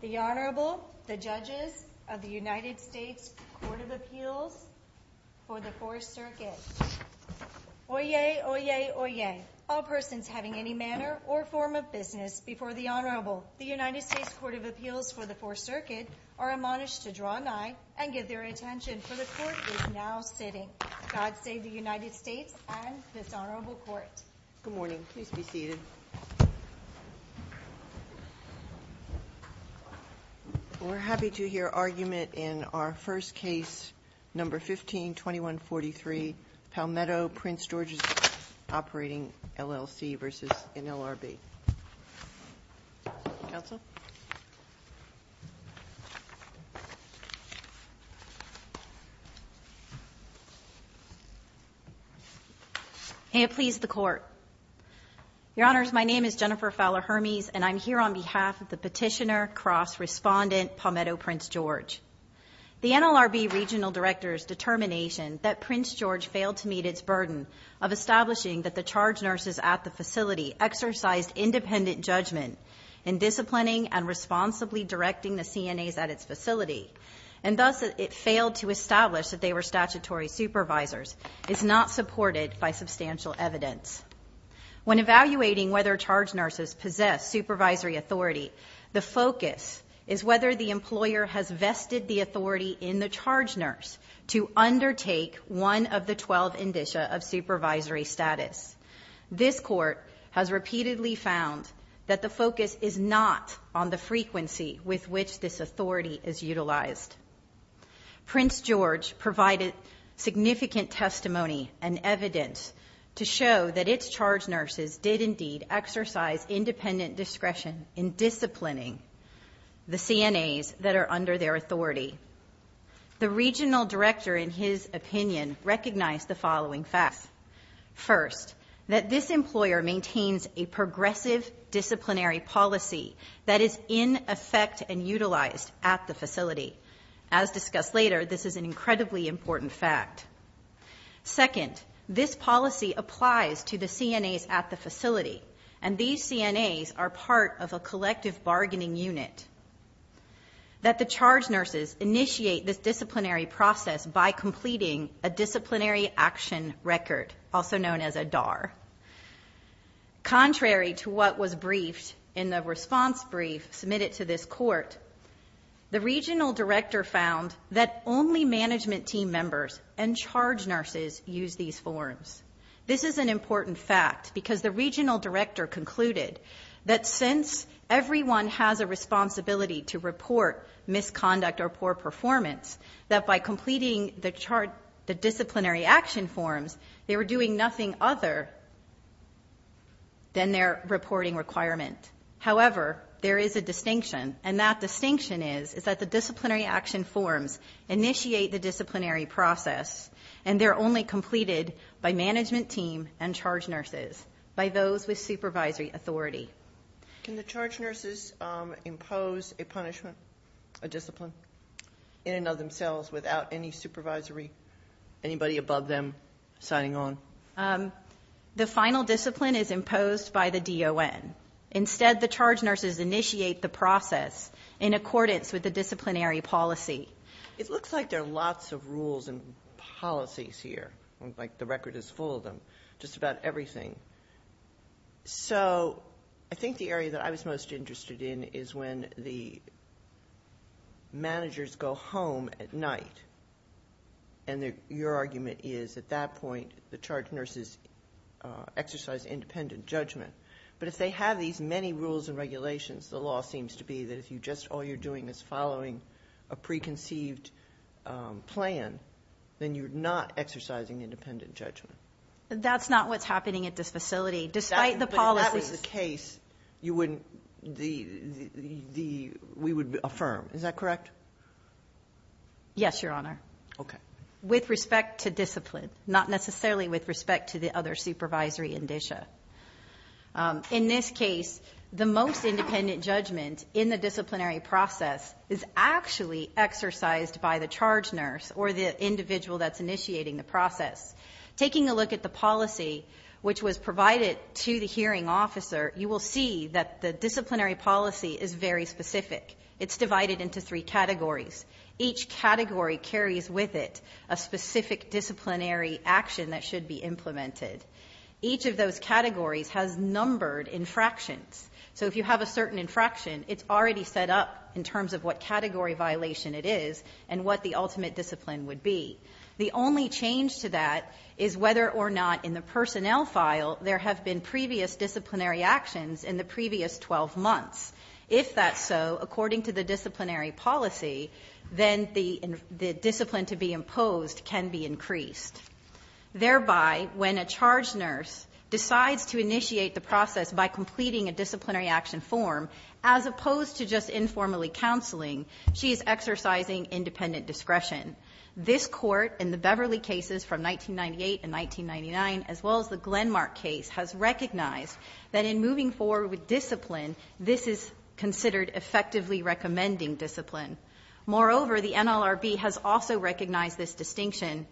The Honorable, the Judges of the United States Court of Appeals for the Fourth Circuit. Oyez, oyez, oyez, all persons having any manner or form of business before the Honorable, the United States Court of Appeals for the Fourth Circuit, are admonished to draw nigh and give their attention, for the Court is now sitting. God save the United States and this Honorable Court. Good morning. Please be seated. We're happy to hear argument in our first case, number 15-2143, Palmetto Prince George's operating LLC v. NLRB. Counsel? May it please the Court. Your Honors, my name is Jennifer Fowler-Hermes, and I'm here on behalf of the petitioner, cross-respondent, Palmetto Prince George. The NLRB Regional Director's determination that Prince George failed to meet its burden of establishing that the charge nurses at the facility exercised independent judgment in disciplining and responsibly directing the CNAs at its facility, and thus it failed to establish that they were statutory supervisors, is not supported by substantial evidence. When evaluating whether charge nurses possess supervisory authority, the focus is whether the employer has vested the authority in the charge nurse to undertake one of the 12 indicia of supervisory status. This Court has repeatedly found that the focus is not on the frequency with which this authority is utilized. Prince George provided significant testimony and evidence to show that its charge nurses did indeed exercise independent discretion in disciplining the CNAs that are under their authority. The Regional Director, in his opinion, recognized the following facts. First, that this employer maintains a progressive disciplinary policy that is in effect and utilized at the facility. As discussed later, this is an incredibly important fact. Second, this policy applies to the CNAs at the facility, and these CNAs are part of a collective bargaining unit. That the charge nurses initiate this disciplinary process by completing a disciplinary action record, also known as a DAR. Contrary to what was briefed in the response brief submitted to this Court, the Regional Director found that only management team members and charge nurses use these forms. This is an important fact because the Regional Director concluded that since everyone has a responsibility to report misconduct or poor performance, that by completing the disciplinary action forms, they were doing nothing other than their reporting requirement. However, there is a distinction, and that distinction is that the disciplinary action forms initiate the disciplinary process, and they're only completed by management team and charge nurses, by those with supervisory authority. Can the charge nurses impose a punishment, a discipline, in and of themselves, without any supervisory, anybody above them, signing on? The final discipline is imposed by the DON. Instead, the charge nurses initiate the process in accordance with the disciplinary policy. It looks like there are lots of rules and policies here. It looks like the record is full of them, just about everything. I think the area that I was most interested in is when the managers go home at night, and your argument is at that point the charge nurses exercise independent judgment. But if they have these many rules and regulations, the law seems to be that if all you're doing is following a preconceived plan, then you're not exercising independent judgment. That's not what's happening at this facility, despite the policies. But if that was the case, we would affirm. Is that correct? Yes, Your Honor, with respect to discipline, not necessarily with respect to the other supervisory indicia. In this case, the most independent judgment in the disciplinary process is actually exercised by the charge nurse, the individual that's initiating the process. Taking a look at the policy, which was provided to the hearing officer, you will see that the disciplinary policy is very specific. It's divided into three categories. Each category carries with it a specific disciplinary action that should be implemented. Each of those categories has numbered infractions. So if you have a certain infraction, it's already set up in terms of what category violation it is, and what the ultimate discipline would be. The only change to that is whether or not in the personnel file there have been previous disciplinary actions in the previous 12 months. If that's so, according to the disciplinary policy, then the discipline to be imposed can be increased. Thereby, when a charge nurse decides to initiate the process by completing a disciplinary action form, as opposed to just informally counseling, she is exercising independent discretion. This Court, in the Beverly cases from 1998 and 1999, as well as the Glenmark case, has recognized that in moving forward with discipline, this is considered effectively recommending discipline. Moreover, the NLRB has also recognized this distinction.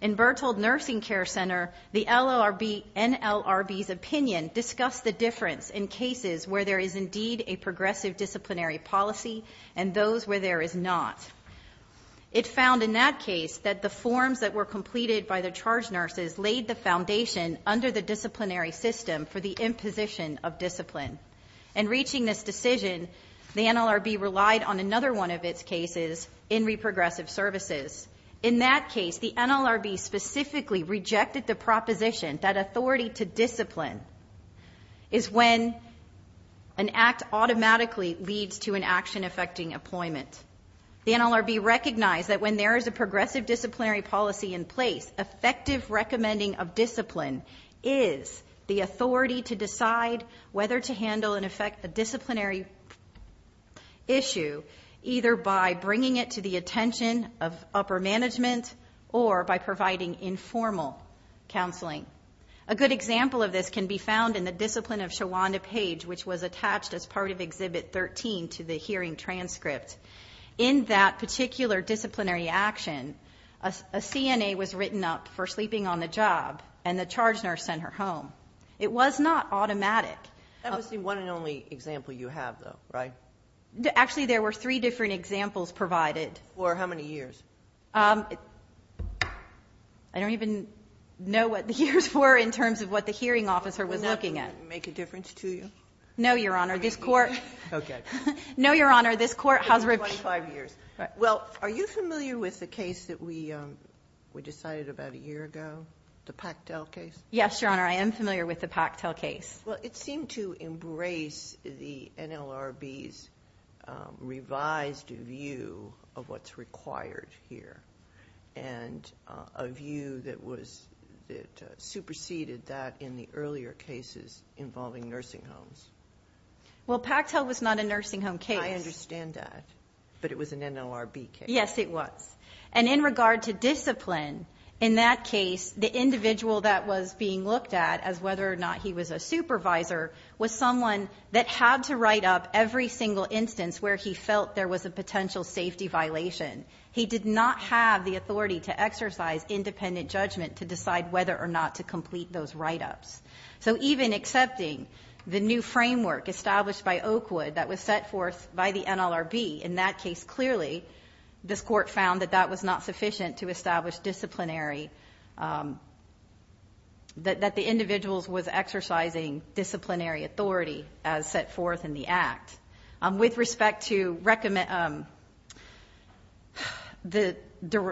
In Berthold Nursing Care Center, the NLRB's opinion discussed the difference in cases where there is indeed a progressive disciplinary policy and those where there is not. It found in that case that the forms that were completed by the charge nurses laid the foundation under the disciplinary system for the imposition of discipline. In reaching this decision, the NLRB relied on another one of its cases in reprogressive services. In that case, the NLRB specifically rejected the proposition that authority to discipline is when an act automatically leads to an action affecting employment. The NLRB recognized that when there is a progressive disciplinary policy in place, effective recommending of discipline is the authority to decide whether to handle and affect the disciplinary issue, either by bringing it to the attention of upper management or by providing informal counseling. A good example of this can be found in the discipline of Shawanda Page, which was attached as part of Exhibit 13 to the hearing transcript. In that particular disciplinary action, a CNA was written up for sleeping on the job and the charge nurse sent her home. It was not automatic. That must be one and only example you have, though, right? Actually, there were three different examples provided. For how many years? I don't even know what the years were in terms of what the hearing officer was looking at. Would that make a difference to you? No, Your Honor. This Court has reviewed... Well, are you familiar with the case that we decided about a year ago, the Pactel case? Yes, Your Honor. I am familiar with the Pactel case. Well, it seemed to embrace the NLRB's revised view of what's required here and a view that superseded that in the earlier cases involving nursing homes. Well, Pactel was not a nursing home case. I understand that, but it was an NLRB case. Yes, it was. And in regard to discipline, in that case, the individual that was being looked at as whether or not he was a supervisor was someone that had to write up every single instance where he felt there was a potential safety violation. He did not have the authority to exercise independent judgment to decide whether or not to complete those write-ups. So even accepting the new framework established by Oakwood that was set forth by the NLRB, in that case, clearly, this Court found that that was not sufficient to establish disciplinary... that the individual was exercising disciplinary authority as set forth in the Act. With respect to...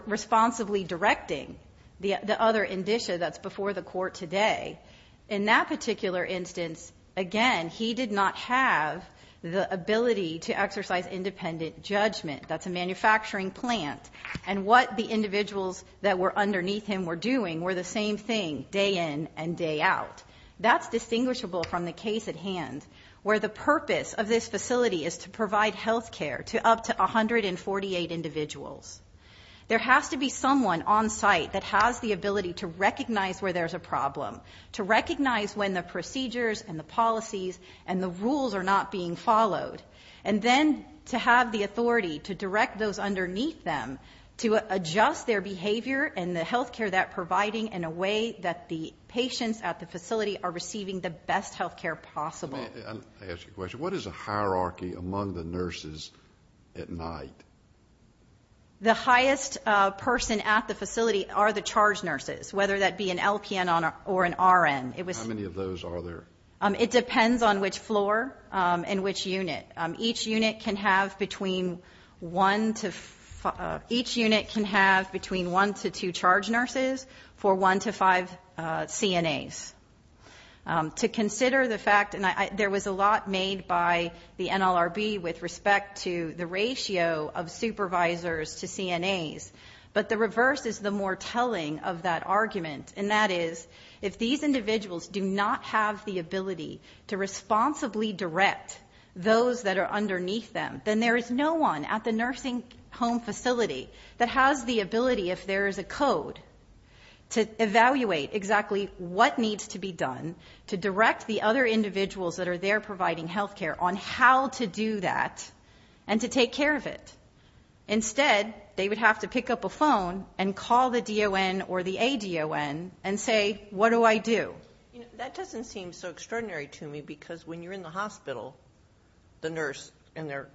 responsibly directing the other indicia that's before the Court today, in that particular instance, again, he did not have the ability to exercise independent judgment. That's a manufacturing plant. And what the individuals that were underneath him were doing were the same thing day in and day out. That's distinguishable from the case at hand, where the purpose of this facility is to provide health care to up to 148 individuals. There has to be someone on site that has the ability to recognize where there's a problem, to recognize when the procedures and the policies and the rules are not being followed, and then to have the authority to direct those underneath them to adjust their behavior and the health care they're providing in a way that the patients at the facility are receiving the best health care possible. Let me ask you a question. What is the hierarchy among the nurses at night? The highest person at the facility are the charge nurses, whether that be an LPN or an RN. How many of those are there? It depends on which floor and which unit. Each unit can have between one to two charge nurses for one to five CNAs. To consider the fact, and there was a lot made by the NLRB with respect to the ratio of supervisors to CNAs, but the reverse is the more telling of that argument, and that is if these individuals do not have the ability to responsibly direct those that are underneath them, then there is no one at the nursing home facility that has the ability, if there is a code, to evaluate exactly what needs to be done to direct the other individuals that are there providing health care on how to do that and to take care of it. Instead, they would have to pick up a phone and call the DON or the ADON and say, what do I do? That doesn't seem so extraordinary to me because when you're in the hospital, the nurse and their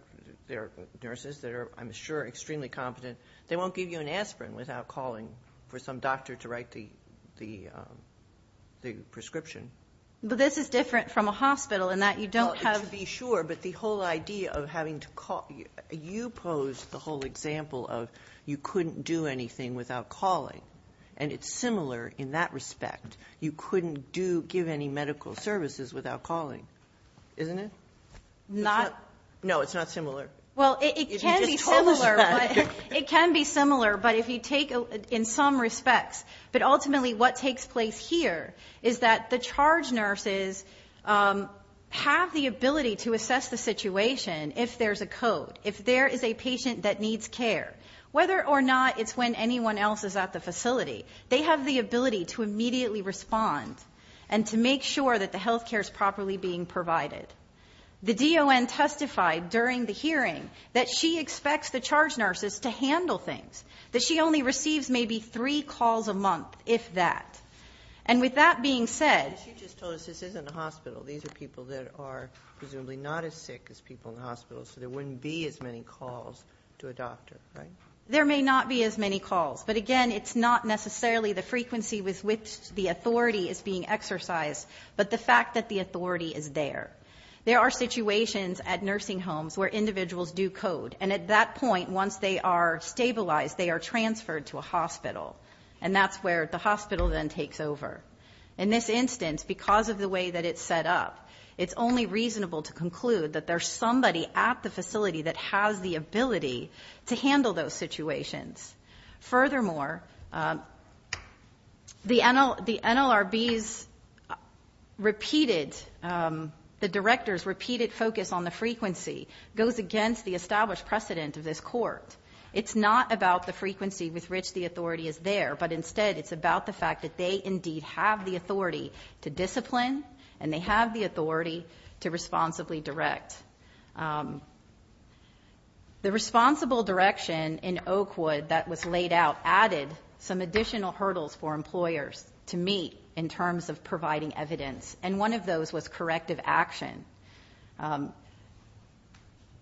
nurses that are, I'm sure, extremely competent, they won't give you an aspirin without calling for some doctor to write the prescription. But this is different from a hospital in that you don't have... Sure, but the whole idea of having to call... You posed the whole example of you couldn't do anything without calling, and it's similar in that respect. You couldn't give any medical services without calling, isn't it? No, it's not similar. It can be similar in some respects, but ultimately what takes place here is that the charge nurses have the ability to assess the situation if there's a code, if there is a patient that needs care. Whether or not it's when anyone else is at the facility, they have the ability to immediately respond and to make sure that the health care is properly being provided. The DON testified during the hearing that she expects the charge nurses to handle things, that she only receives maybe three calls a month, if that. And with that being said... She just told us this isn't a hospital. These are people that are There may not be as many calls, but again, it's not necessarily the frequency with which the authority is being exercised, but the fact that the authority is there. There are situations at nursing homes where individuals do code, and at that point, once they are stabilized, they are transferred to a hospital, and that's where the hospital then takes over. In this instance, because of the way that it's set up, it's only reasonable to have those situations. Furthermore, the NLRB's repeated, the director's repeated focus on the frequency goes against the established precedent of this court. It's not about the frequency with which the authority is there, but instead it's about the fact that they indeed have the authority to discipline, and they have the authority to responsibly direct. The responsible direction in Oakwood that was laid out added some additional hurdles for employers to meet in terms of providing evidence, and one of those was corrective action.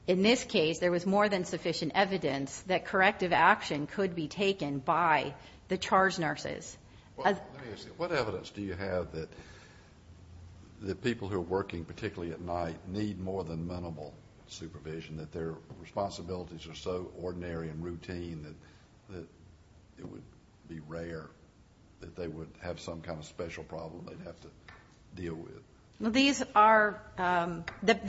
In this case, there was more than sufficient evidence that corrective action could be taken by the charge nurses. What evidence do you have that the people who are working particularly at night need more than minimal supervision, that their responsibilities are so ordinary and routine that it would be rare that they would have some kind of special problem they'd have to deal with? The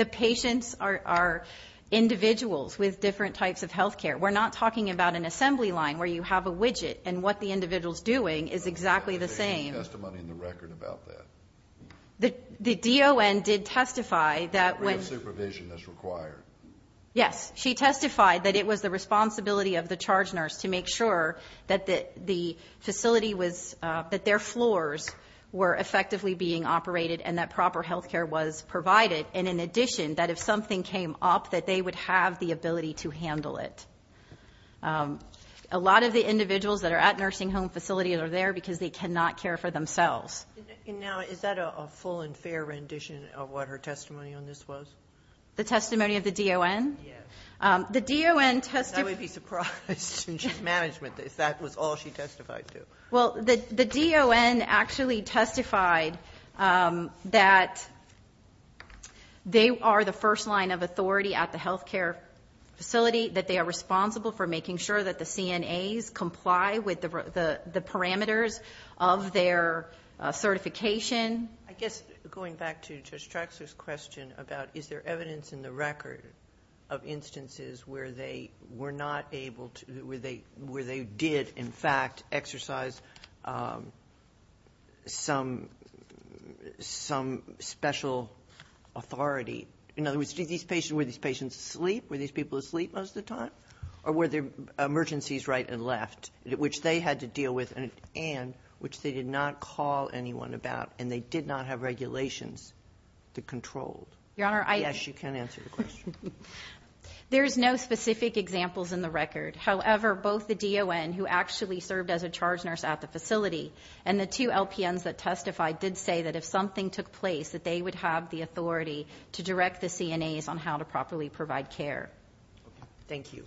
patients are individuals with different types of health care. We're not talking about an assembly line where you have a widget, and what the individual's doing is exactly the same. The D.O.N. did testify that when... Yes, she testified that it was the responsibility of the charge nurse to make sure that the facility was, that their floors were effectively being operated, and that proper health care was provided, and in addition, that if something came up, that they would have the ability to handle it. A lot of the individuals that are at nursing home facilities are there because they cannot care for themselves. Now, is that a full and fair rendition of what her testimony on this was? The testimony of the D.O.N.? Yes. I would be surprised in management if that was all she testified to. Well, the D.O.N. actually testified that they are the first line of authority at the health care facility, that they are responsible for making sure that the CNAs comply with the parameters of their certification. I guess, going back to Judge Traxler's question about, is there evidence in the record of instances where they were not able to, where they did, in fact, exercise some special authority? In other words, were these patients asleep? Were these people asleep most of the time? Or were there emergencies right and left which they had to deal with, and which they did not call anyone about, and they did not have regulations to control? Yes, you can answer the question. There's no specific examples in the record. However, both the D.O.N., who actually served as a charge nurse at the facility, and the two LPNs that testified did say that if something took place, that they would have the authority to direct the CNAs on how to properly provide care. Thank you.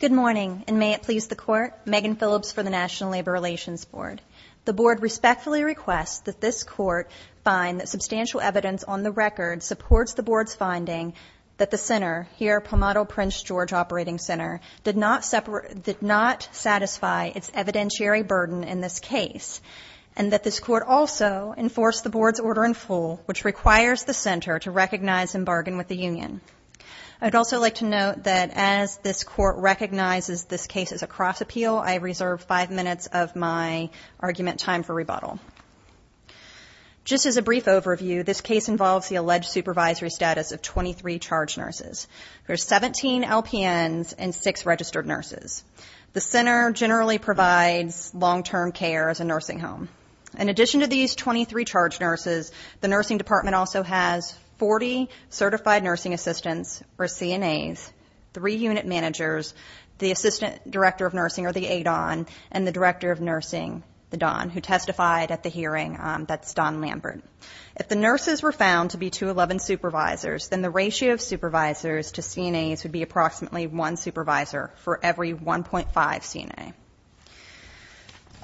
Good morning, and may it please the Court. Megan Phillips for the National Labor Relations Board. The Board respectfully requests that this Court find that substantial evidence on the record supports the Board's finding that the Center, here Palmodo Prince George Operating Center, did not separate, did not satisfy its evidentiary burden in this case, and that this Court also enforce the Board's order in full, which requires the Center to recognize and bargain with the union. I'd also like to note that as this Court recognizes this case as a cross-appeal, I reserve five minutes of my argument time for rebuttal. Just as a brief overview, this case involves the alleged supervisory status of 23 charge nurses. There are 17 LPNs and 6 registered nurses. The Center generally provides long-term care as a nursing home. In addition to these 23 charge nurses, the nursing department also has 40 certified nursing assistants, or CNAs, three unit managers, the Assistant Director of Nursing, or the ADON, and the Director of Nursing, the DON, who testified at the hearing, that's Don Lambert. If the nurses were found to be 211 supervisors, then the ratio of supervisors to CNAs would be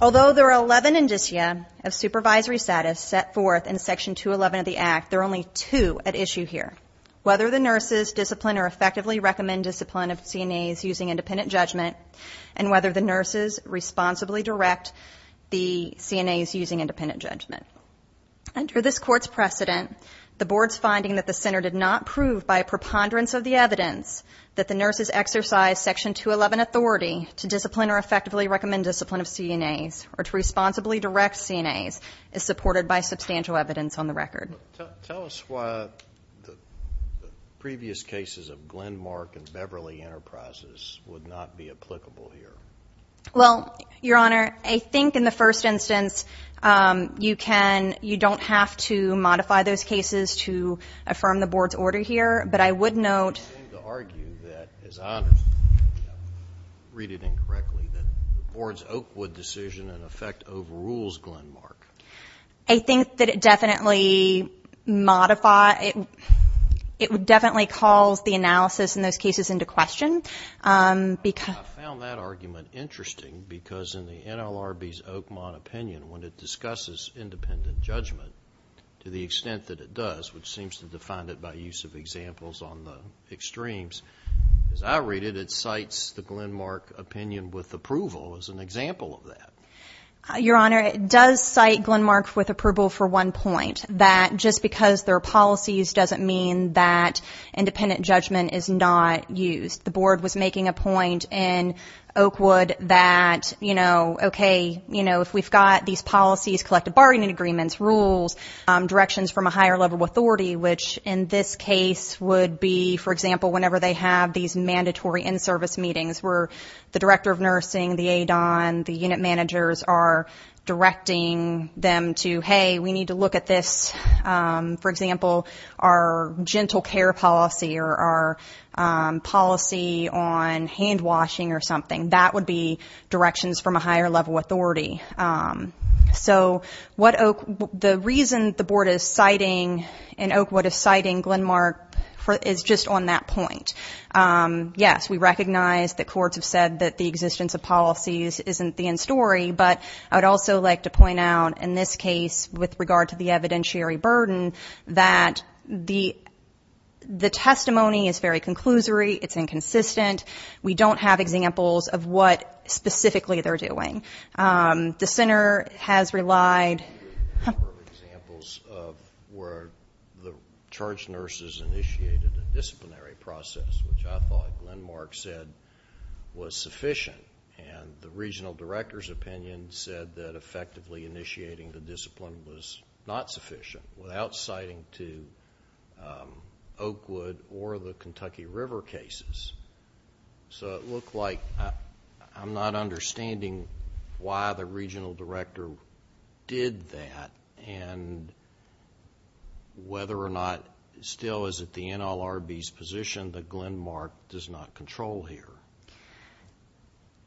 Although there are 11 indicia of supervisory status set forth in Section 211 of the Act, there are only two at issue here, whether the nurses discipline or effectively recommend discipline of CNAs using independent judgment, and whether the nurses responsibly direct the CNAs using independent judgment. Under this Court's precedent, the Board's finding that the Center did not prove by a preponderance of the evidence that the nurses exercised Section 211 authority to discipline or effectively recommend discipline of CNAs or to responsibly direct CNAs is supported by substantial evidence on the record. Tell us why the previous cases of Glenmark and Beverly Enterprises would not be applicable here. Well, Your Honor, I think in the first instance you don't have to modify those as I understand, if I read it incorrectly, that the Board's Oakwood decision in effect overrules Glenmark. I think that it definitely modifies, it definitely calls the analysis in those cases into question. I found that argument interesting because in the NLRB's Oakmont opinion, when it discusses independent judgment to the extent that it does, which seems to define it by use of examples on the extremes, as I read it, it cites the Glenmark opinion with approval as an example of that. Your Honor, it does cite Glenmark with approval for one point, that just because there are policies doesn't mean that independent judgment is not used. The Board was making a point in Oakwood that, you know, okay, you know, if we've got these policies, collective bargaining agreements, rules, directions from a higher level authority, which in this case would be, for example, whenever they have these mandatory in-service meetings where the director of nursing, the aid on, the unit managers are directing them to, hey, we need to look at this, for example, our gentle care policy or our policy on handwashing or something, that would be directions from a higher level authority. So the reason the Board is citing in Oakwood is citing Glenmark is just on that point. Yes, we recognize that courts have said that the existence of policies isn't the end story, but I would also like to point out in this case with regard to the evidentiary burden that the testimony is very conclusory, it's inconsistent, we don't have examples of what specifically they're doing. The center has relied... ...where the charge nurses initiated a disciplinary process, which I thought Glenmark said was sufficient, and the regional director's opinion said that effectively initiating the discipline was not sufficient without citing to Oakwood or the Kentucky River cases. So it looked like I'm not understanding why the regional director did that, and whether or not still is it the NLRB's position that Glenmark does not control here?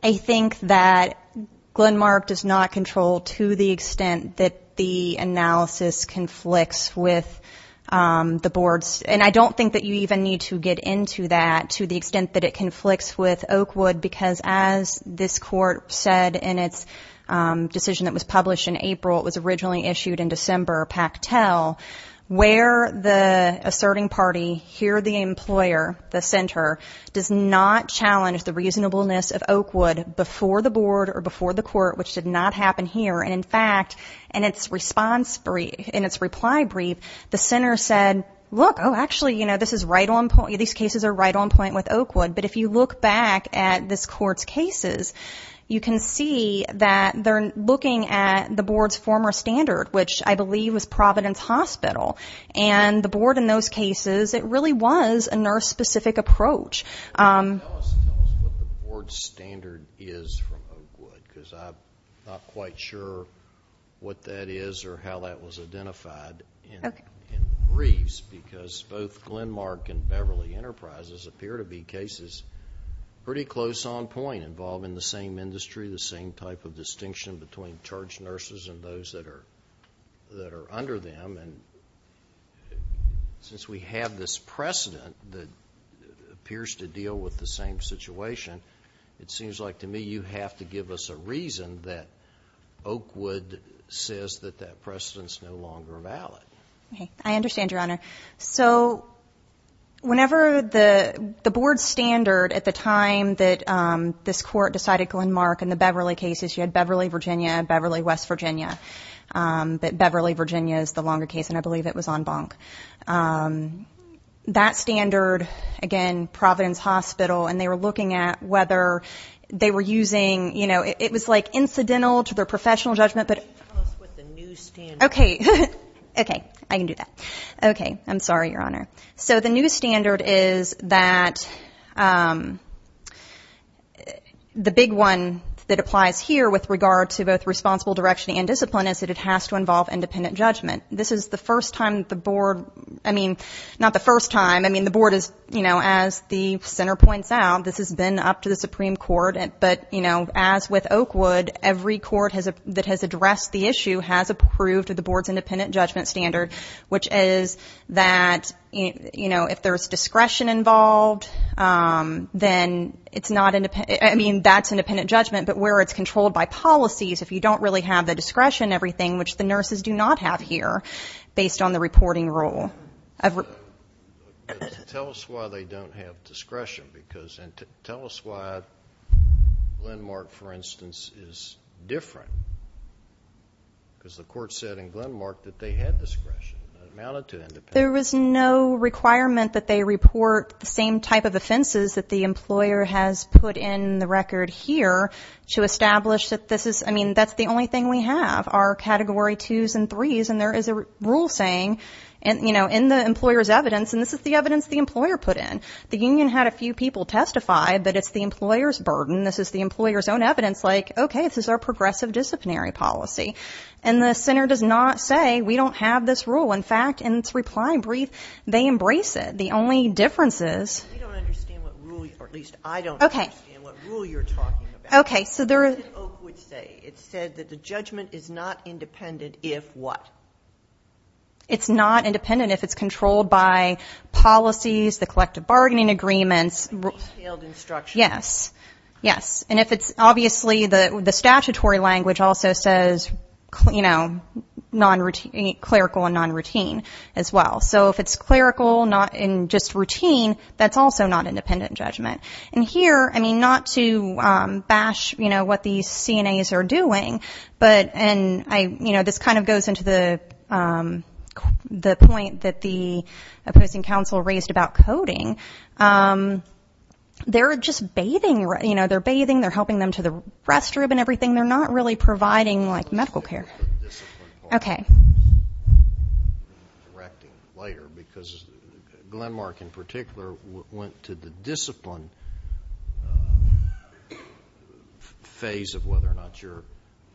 I think that Glenmark does not control to the extent that the analysis conflicts with the Board's, and I don't think that you even need to get into that, to the extent that it conflicts with Oakwood, because as this Court said in its decision that was published in April, it was originally issued in December, Pactel, where the reasonableness of Oakwood before the Board or before the Court, which did not happen here. And in fact, in its reply brief, the center said, look, actually, these cases are right on point with Oakwood, but if you look back at this Court's cases, you can see that they're looking at the Board's former standard, which I believe was Providence Hospital. And the Board in those cases is looking at what the Board's standard is from Oakwood, because I'm not quite sure what that is or how that was identified in the briefs, because both Glenmark and Beverly Enterprises appear to be cases pretty close on point, involving the same industry, the same type of distinction between charge nurses and those that are under them. And since we have this precedent that appears to deal with the same situation, it seems like to me you have to give us a reason that Oakwood says that that precedent is no longer valid. I understand, Your Honor. So whenever the Board's standard at the time that this Court decided Glenmark and the Beverly cases, you had Beverly, Virginia and Beverly, West Virginia. But Beverly, Virginia is the longer case, and I believe it was on Bonk. That standard, again, Providence Hospital, and they were looking at whether they were using, you know, it was like incidental to their professional judgment, but... Okay. Okay. I can do that. Okay. I'm sorry, Your Honor. So the new standard is that the big one that applies here with regard to both responsible direction and discipline is that it has to involve independent judgment. This is the first time the Board, I mean, not the first time. I mean, the Board is, you know, as the center points out, this has been up to the Supreme Court. But, you know, as with Oakwood, every court that has addressed the issue has approved the Board's independent judgment standard, which is that, you know, if there's discretion involved, then it's not independent. I mean, that's independent judgment. But where it's controlled by policies, if you don't really have the discretion, everything, which the nurses do not have here, based on the reporting rule. Tell us why they don't have discretion. Because tell us why Glenmark, for instance, is different. Because the court said in Glenmark that they had discretion. There was no requirement that they report the same type of offenses that the employer has put in the record here to establish that this is, I mean, that's the only thing we have are Category 2s and 3s. And there is a rule saying, you know, in the employer's evidence, and this is the evidence the employer put in, the union had a few people testify, but it's the employer's burden, this is the employer's own evidence, like, okay, this is our progressive disciplinary policy. And the center does not say we don't have this rule. In fact, in its reply brief, they embrace it. The only difference is Okay. Okay. So there is It said that the judgment is not independent if what? Yes. Yes. And if it's, obviously, the statutory language also says, you know, clerical and non-routine as well. So if it's clerical and just routine, that's also not independent judgment. And here, I mean, not to bash, you know, what these CNAs are doing, but, and I, you know, this kind of goes into the point that the opposing counsel raised about coding. They're just bathing, you know, they're bathing, they're helping them to the restroom and everything. They're not really providing, like, medical care. Okay. Because Glenmark, in particular, went to the discipline phase of whether or not you're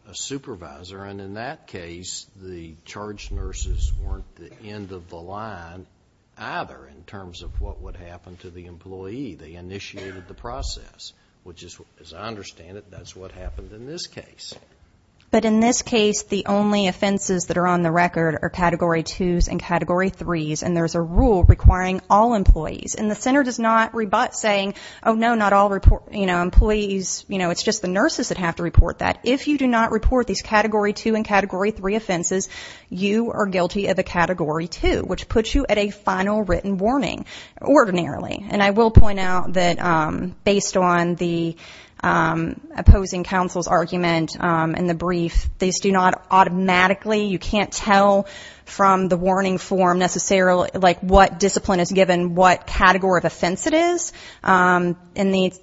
a line either in terms of what would happen to the employee. They initiated the process, which is, as I understand it, that's what happened in this case. But in this case, the only offenses that are on the record are Category 2s and Category 3s. And there's a rule requiring all employees. And the center does not rebut saying, oh, no, not all employees, you know, it's just the nurses that have to report that. If you do not report these Category 2 and Category 3 offenses, you are guilty of a Category 2, which puts you at a final written warning, ordinarily. And I will point out that based on the opposing counsel's argument in the brief, these do not automatically, you can't tell from the warning form necessarily, like, what discipline is given, what category of offense it is. In the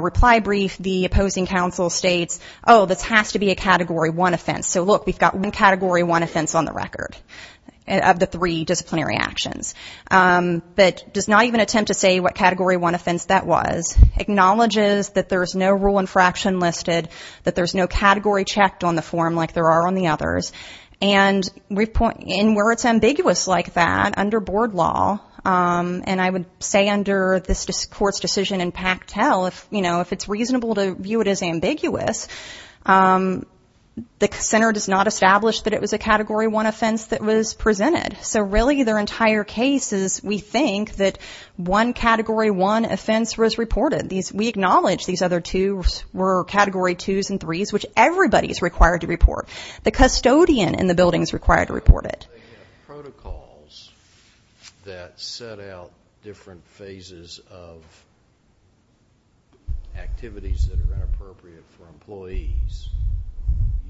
reply brief, the opposing counsel states, oh, this has to be a Category 1 offense. So, look, we've got one Category 1 offense on the record of the three disciplinary actions. But does not even attempt to say what Category 1 offense that was. Acknowledges that there's no rule infraction listed, that there's no category checked on the form like there are on the others. And where it's ambiguous like that under board law, and I would say under this court's decision in Pactel, if, you know, if it's reasonable to view it as ambiguous, the center does not establish that it was a Category 1 offense that was presented. So, really, their entire case is, we think, that one Category 1 offense was reported. We acknowledge these other two were Category 2s and 3s, which everybody is required to report. The custodian in the building is required to report it. They have protocols that set out different phases of activities that are inappropriate for employees.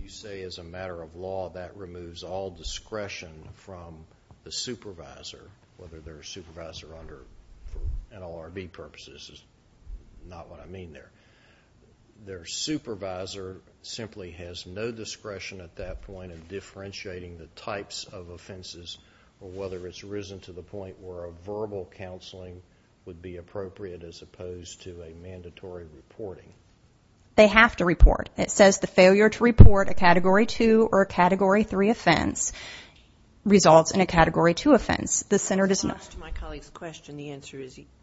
You say, as a matter of law, that removes all discretion from the supervisor, whether they're a supervisor under, for NLRB purposes, not what I mean there, their supervisor simply has no discretion at that point in differentiating the types of offenses or whether it's risen to the point where a verbal counseling would be appropriate as opposed to a mandatory reporting. They have to report. It says the failure to report a Category 2 or a Category 3 offense results in a Category 2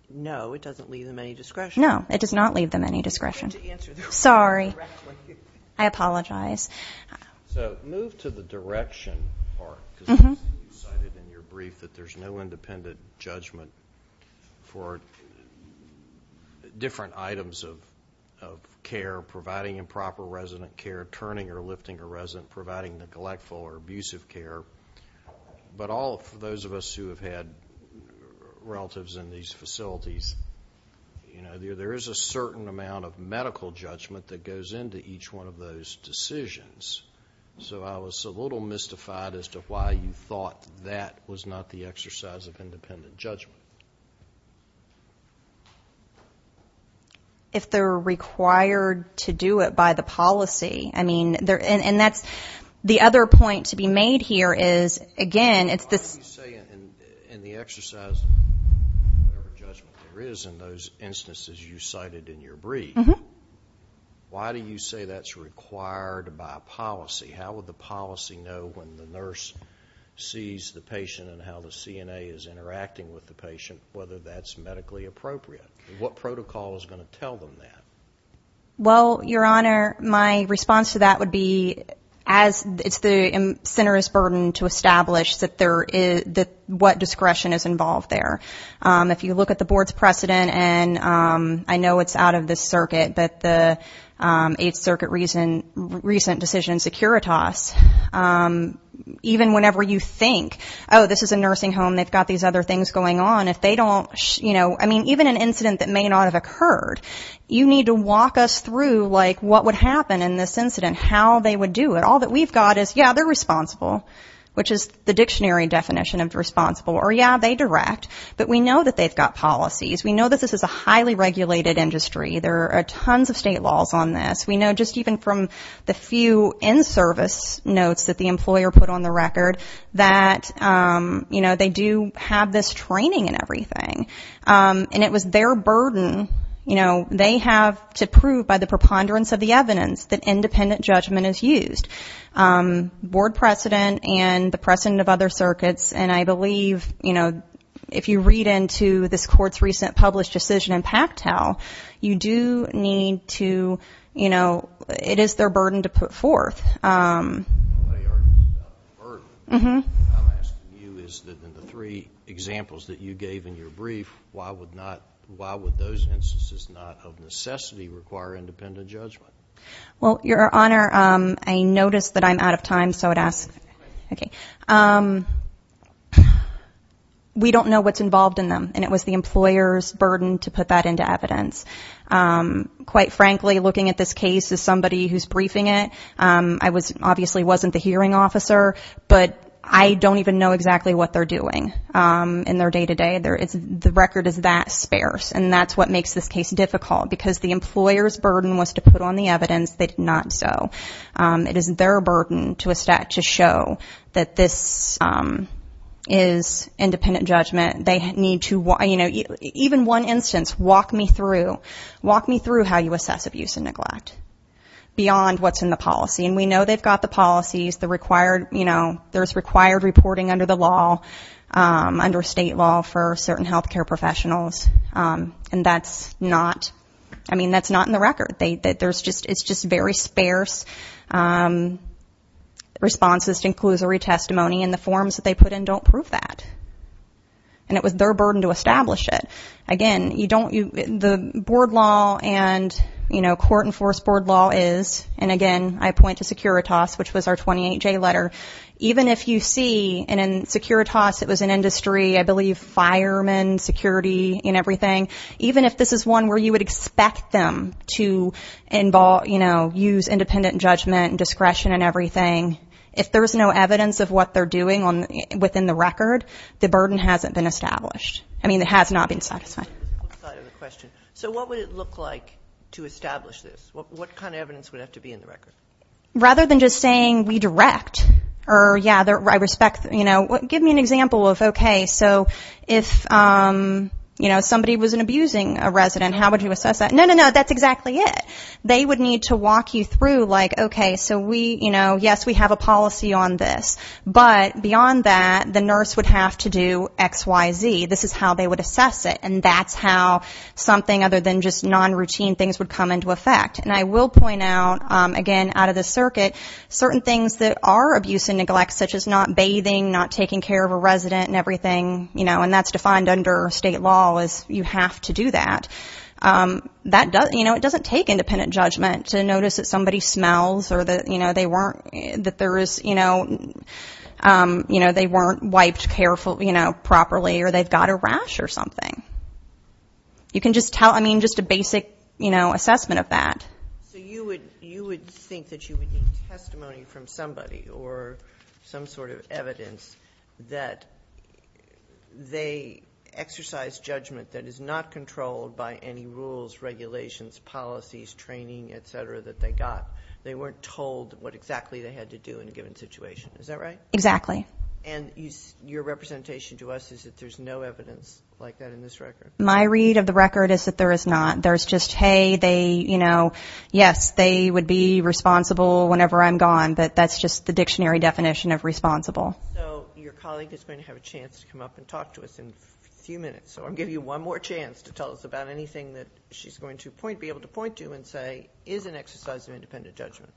No, it does not leave them any discretion. Sorry. I apologize. So, move to the direction part. You cited in your brief that there's no independent judgment for different items of care, providing improper resident care, turning or lifting a resident, providing neglectful or abusive care. But all of those of us who have had relatives in these facilities, there is a certain amount of medical judgment that goes into each one of those decisions. So I was a little mystified as to why you thought that was not the exercise of independent judgment. If they're required to do it by the policy. I mean, and that's the other point to be made here is, again, in the exercise of whatever judgment there is in those instances you cited in your brief, why do you say that's required by policy? How would the policy know when the nurse sees the patient and how the CNA is interacting with the patient, whether that's medically appropriate? What protocol is going to tell them that? Well, Your Honor, my response to that would be as it's the center's burden to establish that what discretion is involved there. If you look at the board's precedent and I know it's out of the circuit, that the 8th Circuit recent decision in Securitas, even whenever you think, oh, this is a nursing home, they've got these other things going on, if they don't, you know, I mean, even an incident that may not have occurred, you need to walk us through like what would happen in this incident, how they would do it. All that we've got is, yeah, they're responsible, which is the dictionary definition of responsible, or yeah, they direct, but we know that they've got policies. We know that this is a highly regulated industry. There are tons of state laws on this. We know just even from the few in-service notes that the employer put on the record that, you know, they do have this training and everything. And it was their burden, you know, they have to prove by the preponderance of the evidence that independent judgment is used. Board precedent and the precedent of other circuits, and I believe, you know, if you read into this court's recent published decision in Pactel, you do need to, you know, it is their burden to put forth. I'm asking you is that in the three examples that you gave in your brief, why would those instances not of necessity require independent judgment? Well, Your Honor, I noticed that I'm out of time, so I'd ask. Okay. We don't know what's involved in them, and it was the employer's burden to put that into evidence. Quite frankly, looking at this case as somebody who's briefing it, I obviously wasn't the hearing officer, but I don't even know exactly what they're doing in their day-to-day. The record is that sparse, and that's what makes this case difficult, because the employer's burden was to put on the evidence, they did not so. It is their burden to show that this is independent judgment. They need to, you know, even one instance, walk me through, walk me through how you assess abuse and neglect beyond what's in the policy. And we know they've got the policies, the required, you know, there's required reporting under the law, under state law for certain health care professionals, and that's not, I mean, that's not in the record. It's just very sparse responses to inclusory testimony, and the forms that they put in don't prove that. And it was their burden to establish it. Again, you don't, the board law and, you know, court-enforced board law is, and again, I point to Securitas, which was our 28-J letter. Even if you see, and in Securitas it was an industry, I believe, firemen, security, and everything, even if this is one where you would expect them to, you know, use independent judgment and discretion and everything, if there's no evidence of what they're doing within the record, the burden hasn't been established. I mean, it has not been satisfied. So what would it look like to establish this? What kind of evidence would have to be in the record? Rather than just saying we direct or, yeah, I respect, you know, give me an example of, okay, so if, you know, somebody was abusing a resident, how would you assess that? No, no, no, that's exactly it. They would need to walk you through, like, okay, so we, you know, yes, we have a policy on this, but beyond that, the nurse would have to do X, Y, Z. This is how they would assess it, and that's how something other than just non-routine things would come into effect. And I will point out, again, out of the circuit, certain things that are abuse and neglect, such as not bathing, not taking care of a resident and everything, you know, and that's defined under state law as you have to do that. That doesn't, you know, it doesn't take independent judgment to notice that somebody smells or that, you know, they weren't, that there is, you know, you know, they weren't wiped careful, you know, properly or they've got a rash or something. You can just tell, I mean, just a basic, you know, assessment of that. So you would think that you would need testimony from somebody or some sort of evidence that they exercised judgment that is not controlled by any rules, regulations, policies, training, et cetera, that they got. They weren't told what exactly they had to do in a given situation. Is that right? Exactly. And your representation to us is that there's no evidence like that in this record? My read of the record is that there is not. There's just, hey, they, you know, yes, they would be responsible whenever I'm gone, but that's just the dictionary definition of responsible. So your colleague is going to have a chance to come up and talk to us in a few minutes or give you one more chance to tell us about anything that she's going to point, be able to point to and say, is an exercise of independent judgment.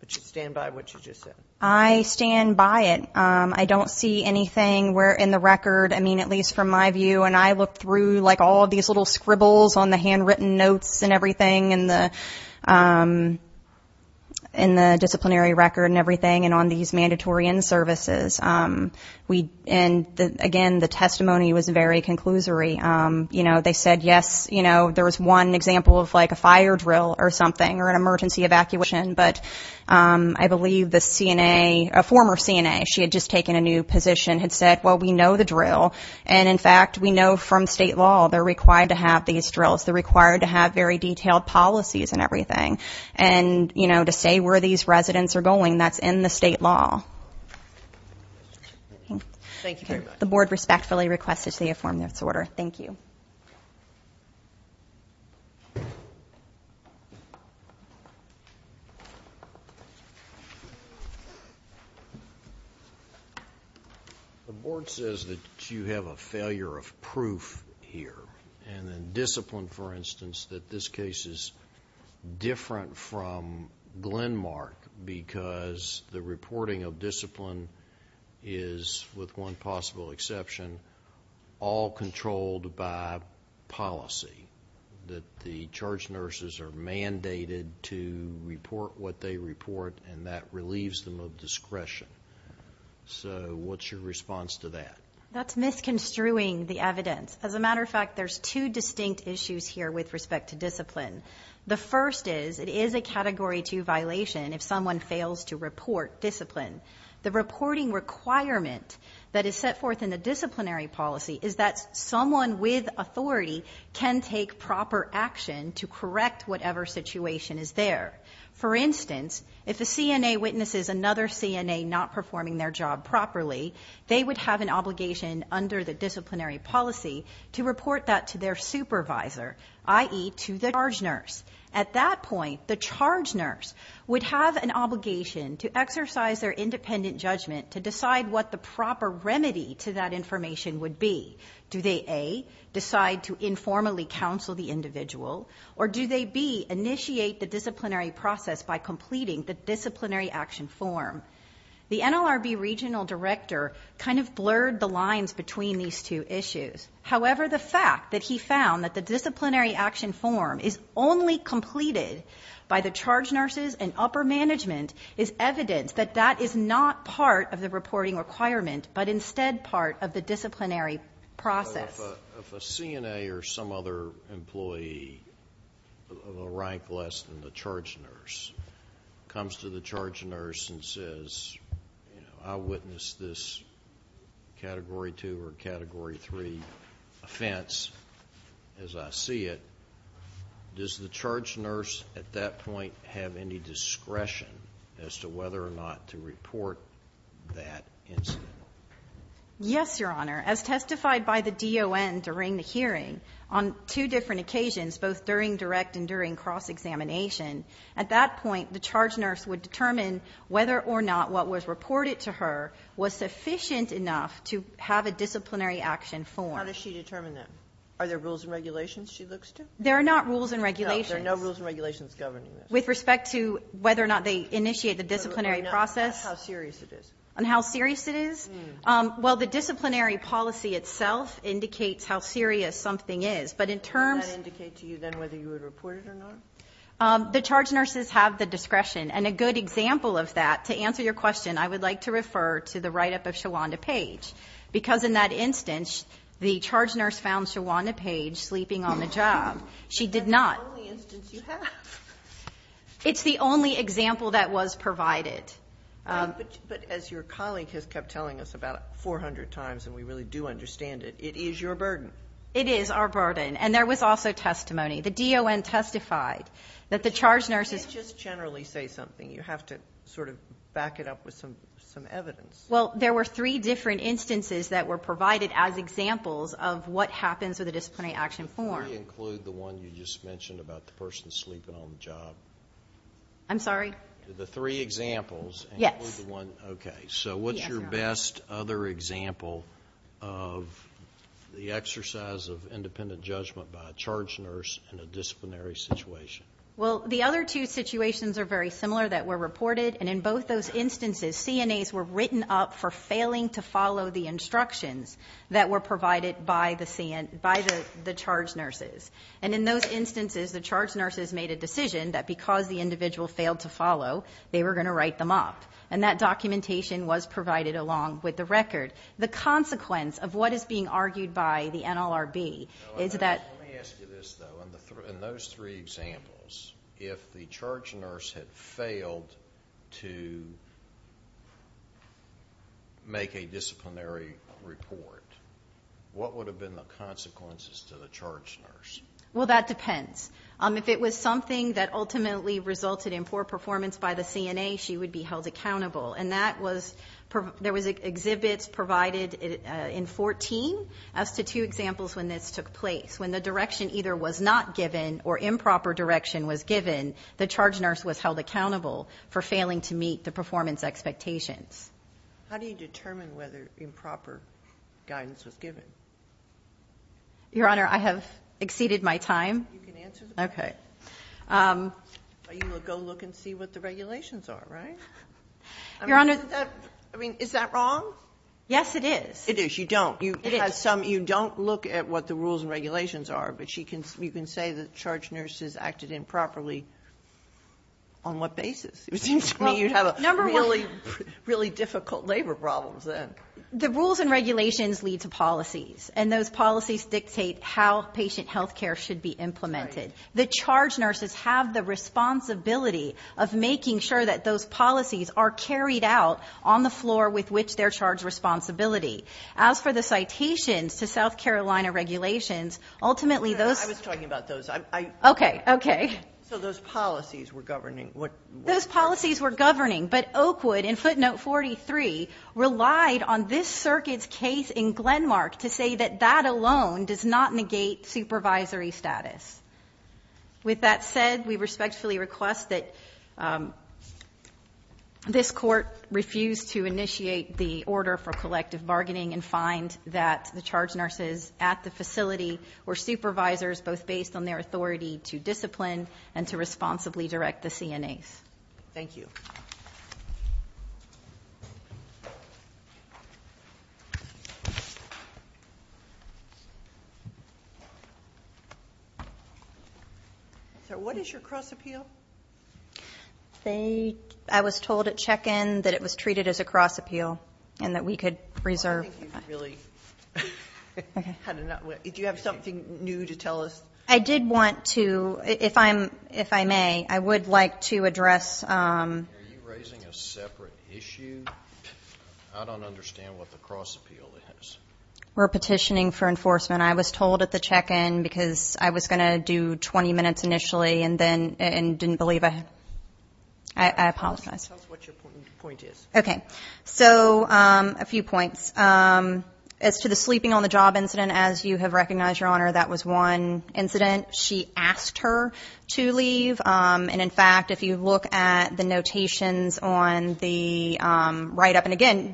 But you stand by what you just said. I stand by it. I don't see anything where in the record, I mean, at least from my view, and I look through like all of these little scribbles on the handwritten notes and everything and the disciplinary record and everything and on these mandatory inservices. And again, the testimony was very conclusory. You know, they said, yes, you know, there was one example of like a fire drill or something or an emergency evacuation. But I believe the CNA, a former CNA, she had just taken a new position, had said, well, we know the drill. And in fact, we know from state law they're required to have these drills. They're required to have very detailed policies and everything. And, you know, to say where these residents are going, that's in the state law. Thank you very much. The board respectfully requests it to be affirmed in its order. Thank you. The board says that you have a failure of proof here. And then discipline, for instance, that this case is different from Glenmark because the reporting of discipline is, with one possible exception, all controlled by policy, that the charge nurses are mandated to report what they report, and that relieves them of discretion. So what's your response to that? That's misconstruing the evidence. As a matter of fact, there's two distinct issues here with respect to discipline. The first is it is a Category 2 violation if someone fails to report discipline. The reporting requirement that is set forth in the disciplinary policy is that someone with authority can take proper action to correct whatever situation is there. For instance, if a CNA witnesses another CNA not performing their job properly, they would have an obligation under the disciplinary policy to report that to their supervisor, i.e., to the charge nurse. At that point, the charge nurse would have an obligation to exercise their independent judgment to decide what the proper remedy to that information would be. Do they, A, decide to informally counsel the individual, or do they, B, initiate the disciplinary process by completing the disciplinary action form? The NLRB regional director kind of blurred the lines between these two issues. However, the fact that he found that the disciplinary action form is only completed by the charge nurses and upper management is evidence that that is not part of the reporting requirement, but instead part of the disciplinary process. If a CNA or some other employee, ranked less than the charge nurse, comes to the charge nurse and says, I witnessed this Category 2 or Category 3 offense as I see it, does the charge nurse at that point have any discretion as to whether or not to report that incident? Yes, Your Honor. As testified by the D.O.N. during the hearing, on two different occasions, both during direct and during cross-examination, at that point, the charge nurse would determine whether or not what was reported to her was sufficient enough to have a disciplinary action form. How does she determine that? Are there rules and regulations she looks to? There are not rules and regulations. No, there are no rules and regulations governing this. With respect to whether or not they initiate the disciplinary process? On how serious it is? Well, the disciplinary policy itself indicates how serious something is. Does that indicate to you then whether you would report it or not? The charge nurses have the discretion. And a good example of that, to answer your question, I would like to refer to the write-up of Shawanda Page, because in that instance, the charge nurse found Shawanda Page sleeping on the job. She did not. That's the only instance you have. It's the only example that was provided. But as your colleague has kept telling us about 400 times, and we really do understand it, it is your burden. It is our burden. And there was also testimony. The D.O.N. testified that the charge nurses Let's just generally say something. You have to sort of back it up with some evidence. Well, there were three different instances that were provided as examples of what happens with a disciplinary action form. Can we include the one you just mentioned about the person sleeping on the job? I'm sorry? The three examples? Yes. So what's your best other example of the exercise of independent judgment by a charge nurse in a disciplinary situation? Well, the other two situations are very similar that were reported. And in both those instances, CNAs were written up for failing to follow the instructions that were provided by the charge nurses. And in those instances, the charge nurses made a decision that because the individual failed to follow, they were going to write them up. And that documentation was provided along with the record. The consequence of what is being argued by the NLRB is that Let me ask you this, though. In those three examples, if the charge nurse had failed to make a disciplinary report, what would have been the consequences to the charge nurse? Well, that depends. If it was something that ultimately resulted in poor performance by the CNA, she would be held accountable. And there was exhibits provided in 14 as to two examples when this took place. When the direction either was not given or improper direction was given, the charge nurse was held accountable for failing to meet the performance expectations. How do you determine whether improper guidance was given? Your Honor, I have exceeded my time. Okay. Go look and see what the regulations are, right? Your Honor. I mean, is that wrong? Yes, it is. It is. You don't. You don't look at what the rules and regulations are, but you can say that charge nurses acted improperly. On what basis? It seems to me you have a number of really, really difficult labor problems. The rules and regulations lead to policies, and those policies dictate how patient health care should be implemented. The charge nurses have the responsibility of making sure that those policies are carried out on the floor with which they're charged responsibility. As for the citations to South Carolina regulations, ultimately those... I was talking about those. Okay. Okay. So those policies were governing. Those policies were governing, but Oakwood in footnote 43 relied on this circuit's case in Glenmark to say that that alone does not negate supervisory status. With that said, we respectfully request that this court refuse to initiate the order for collective bargaining and find that the charge nurses at the facility were supervisors both based on their authority to discipline and to responsibly direct the CNAs. Thank you. So what is your cross appeal? I was told at check-in that it was treated as a cross appeal and that we could reserve... Do you have something new to tell us? I did want to... If I may, I would like to address... Are you raising a separate issue? I don't understand what the cross appeal is. We're petitioning for enforcement. I was told at the check-in because I was going to do 20 minutes initially and didn't believe I... I apologize. Tell us what your point is. Okay. So a few points. As to the sleeping on the job incident, as you have recognized, Your Honor, that was one incident. She asked her to leave. And in fact, if you look at the notations on the write-up, and again,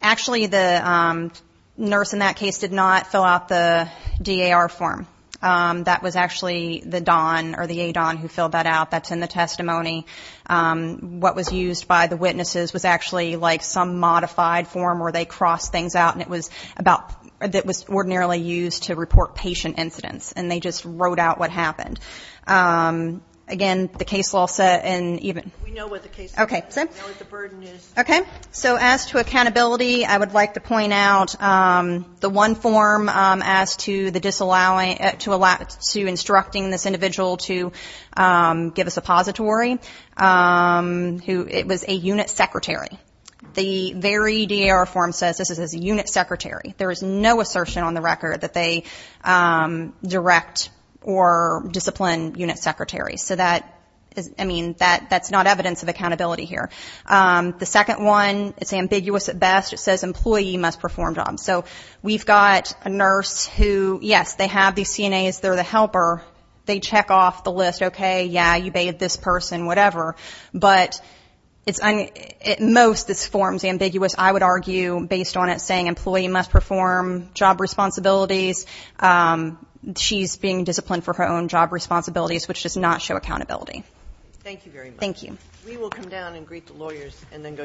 actually the nurse in that case did not fill out the DAR form. That was actually the one used by the witnesses was actually like some modified form where they crossed things out that was ordinarily used to report patient incidents. And they just wrote out what happened. Again, the case law said... Okay. So as to accountability, I would like to point out the one form as to the disallowing... to instructing this individual to give a suppository. It was a unit secretary. The very DAR form says this is a unit secretary. There is no assertion on the record that they direct or discipline unit secretaries. So that's not evidence of accountability here. The second one is ambiguous at best. It says employee must perform jobs. So we've got a nurse who, yes, they have these CNAs. They're the helper. They check off the list, okay, yeah, you bathed this person, whatever. But most this form is ambiguous, I would argue, based on it saying employee must perform job responsibilities. She's being disciplined for her own job responsibilities, which does not show accountability. Thank you very much. We will come down and greet the lawyers and then go directly to our next case.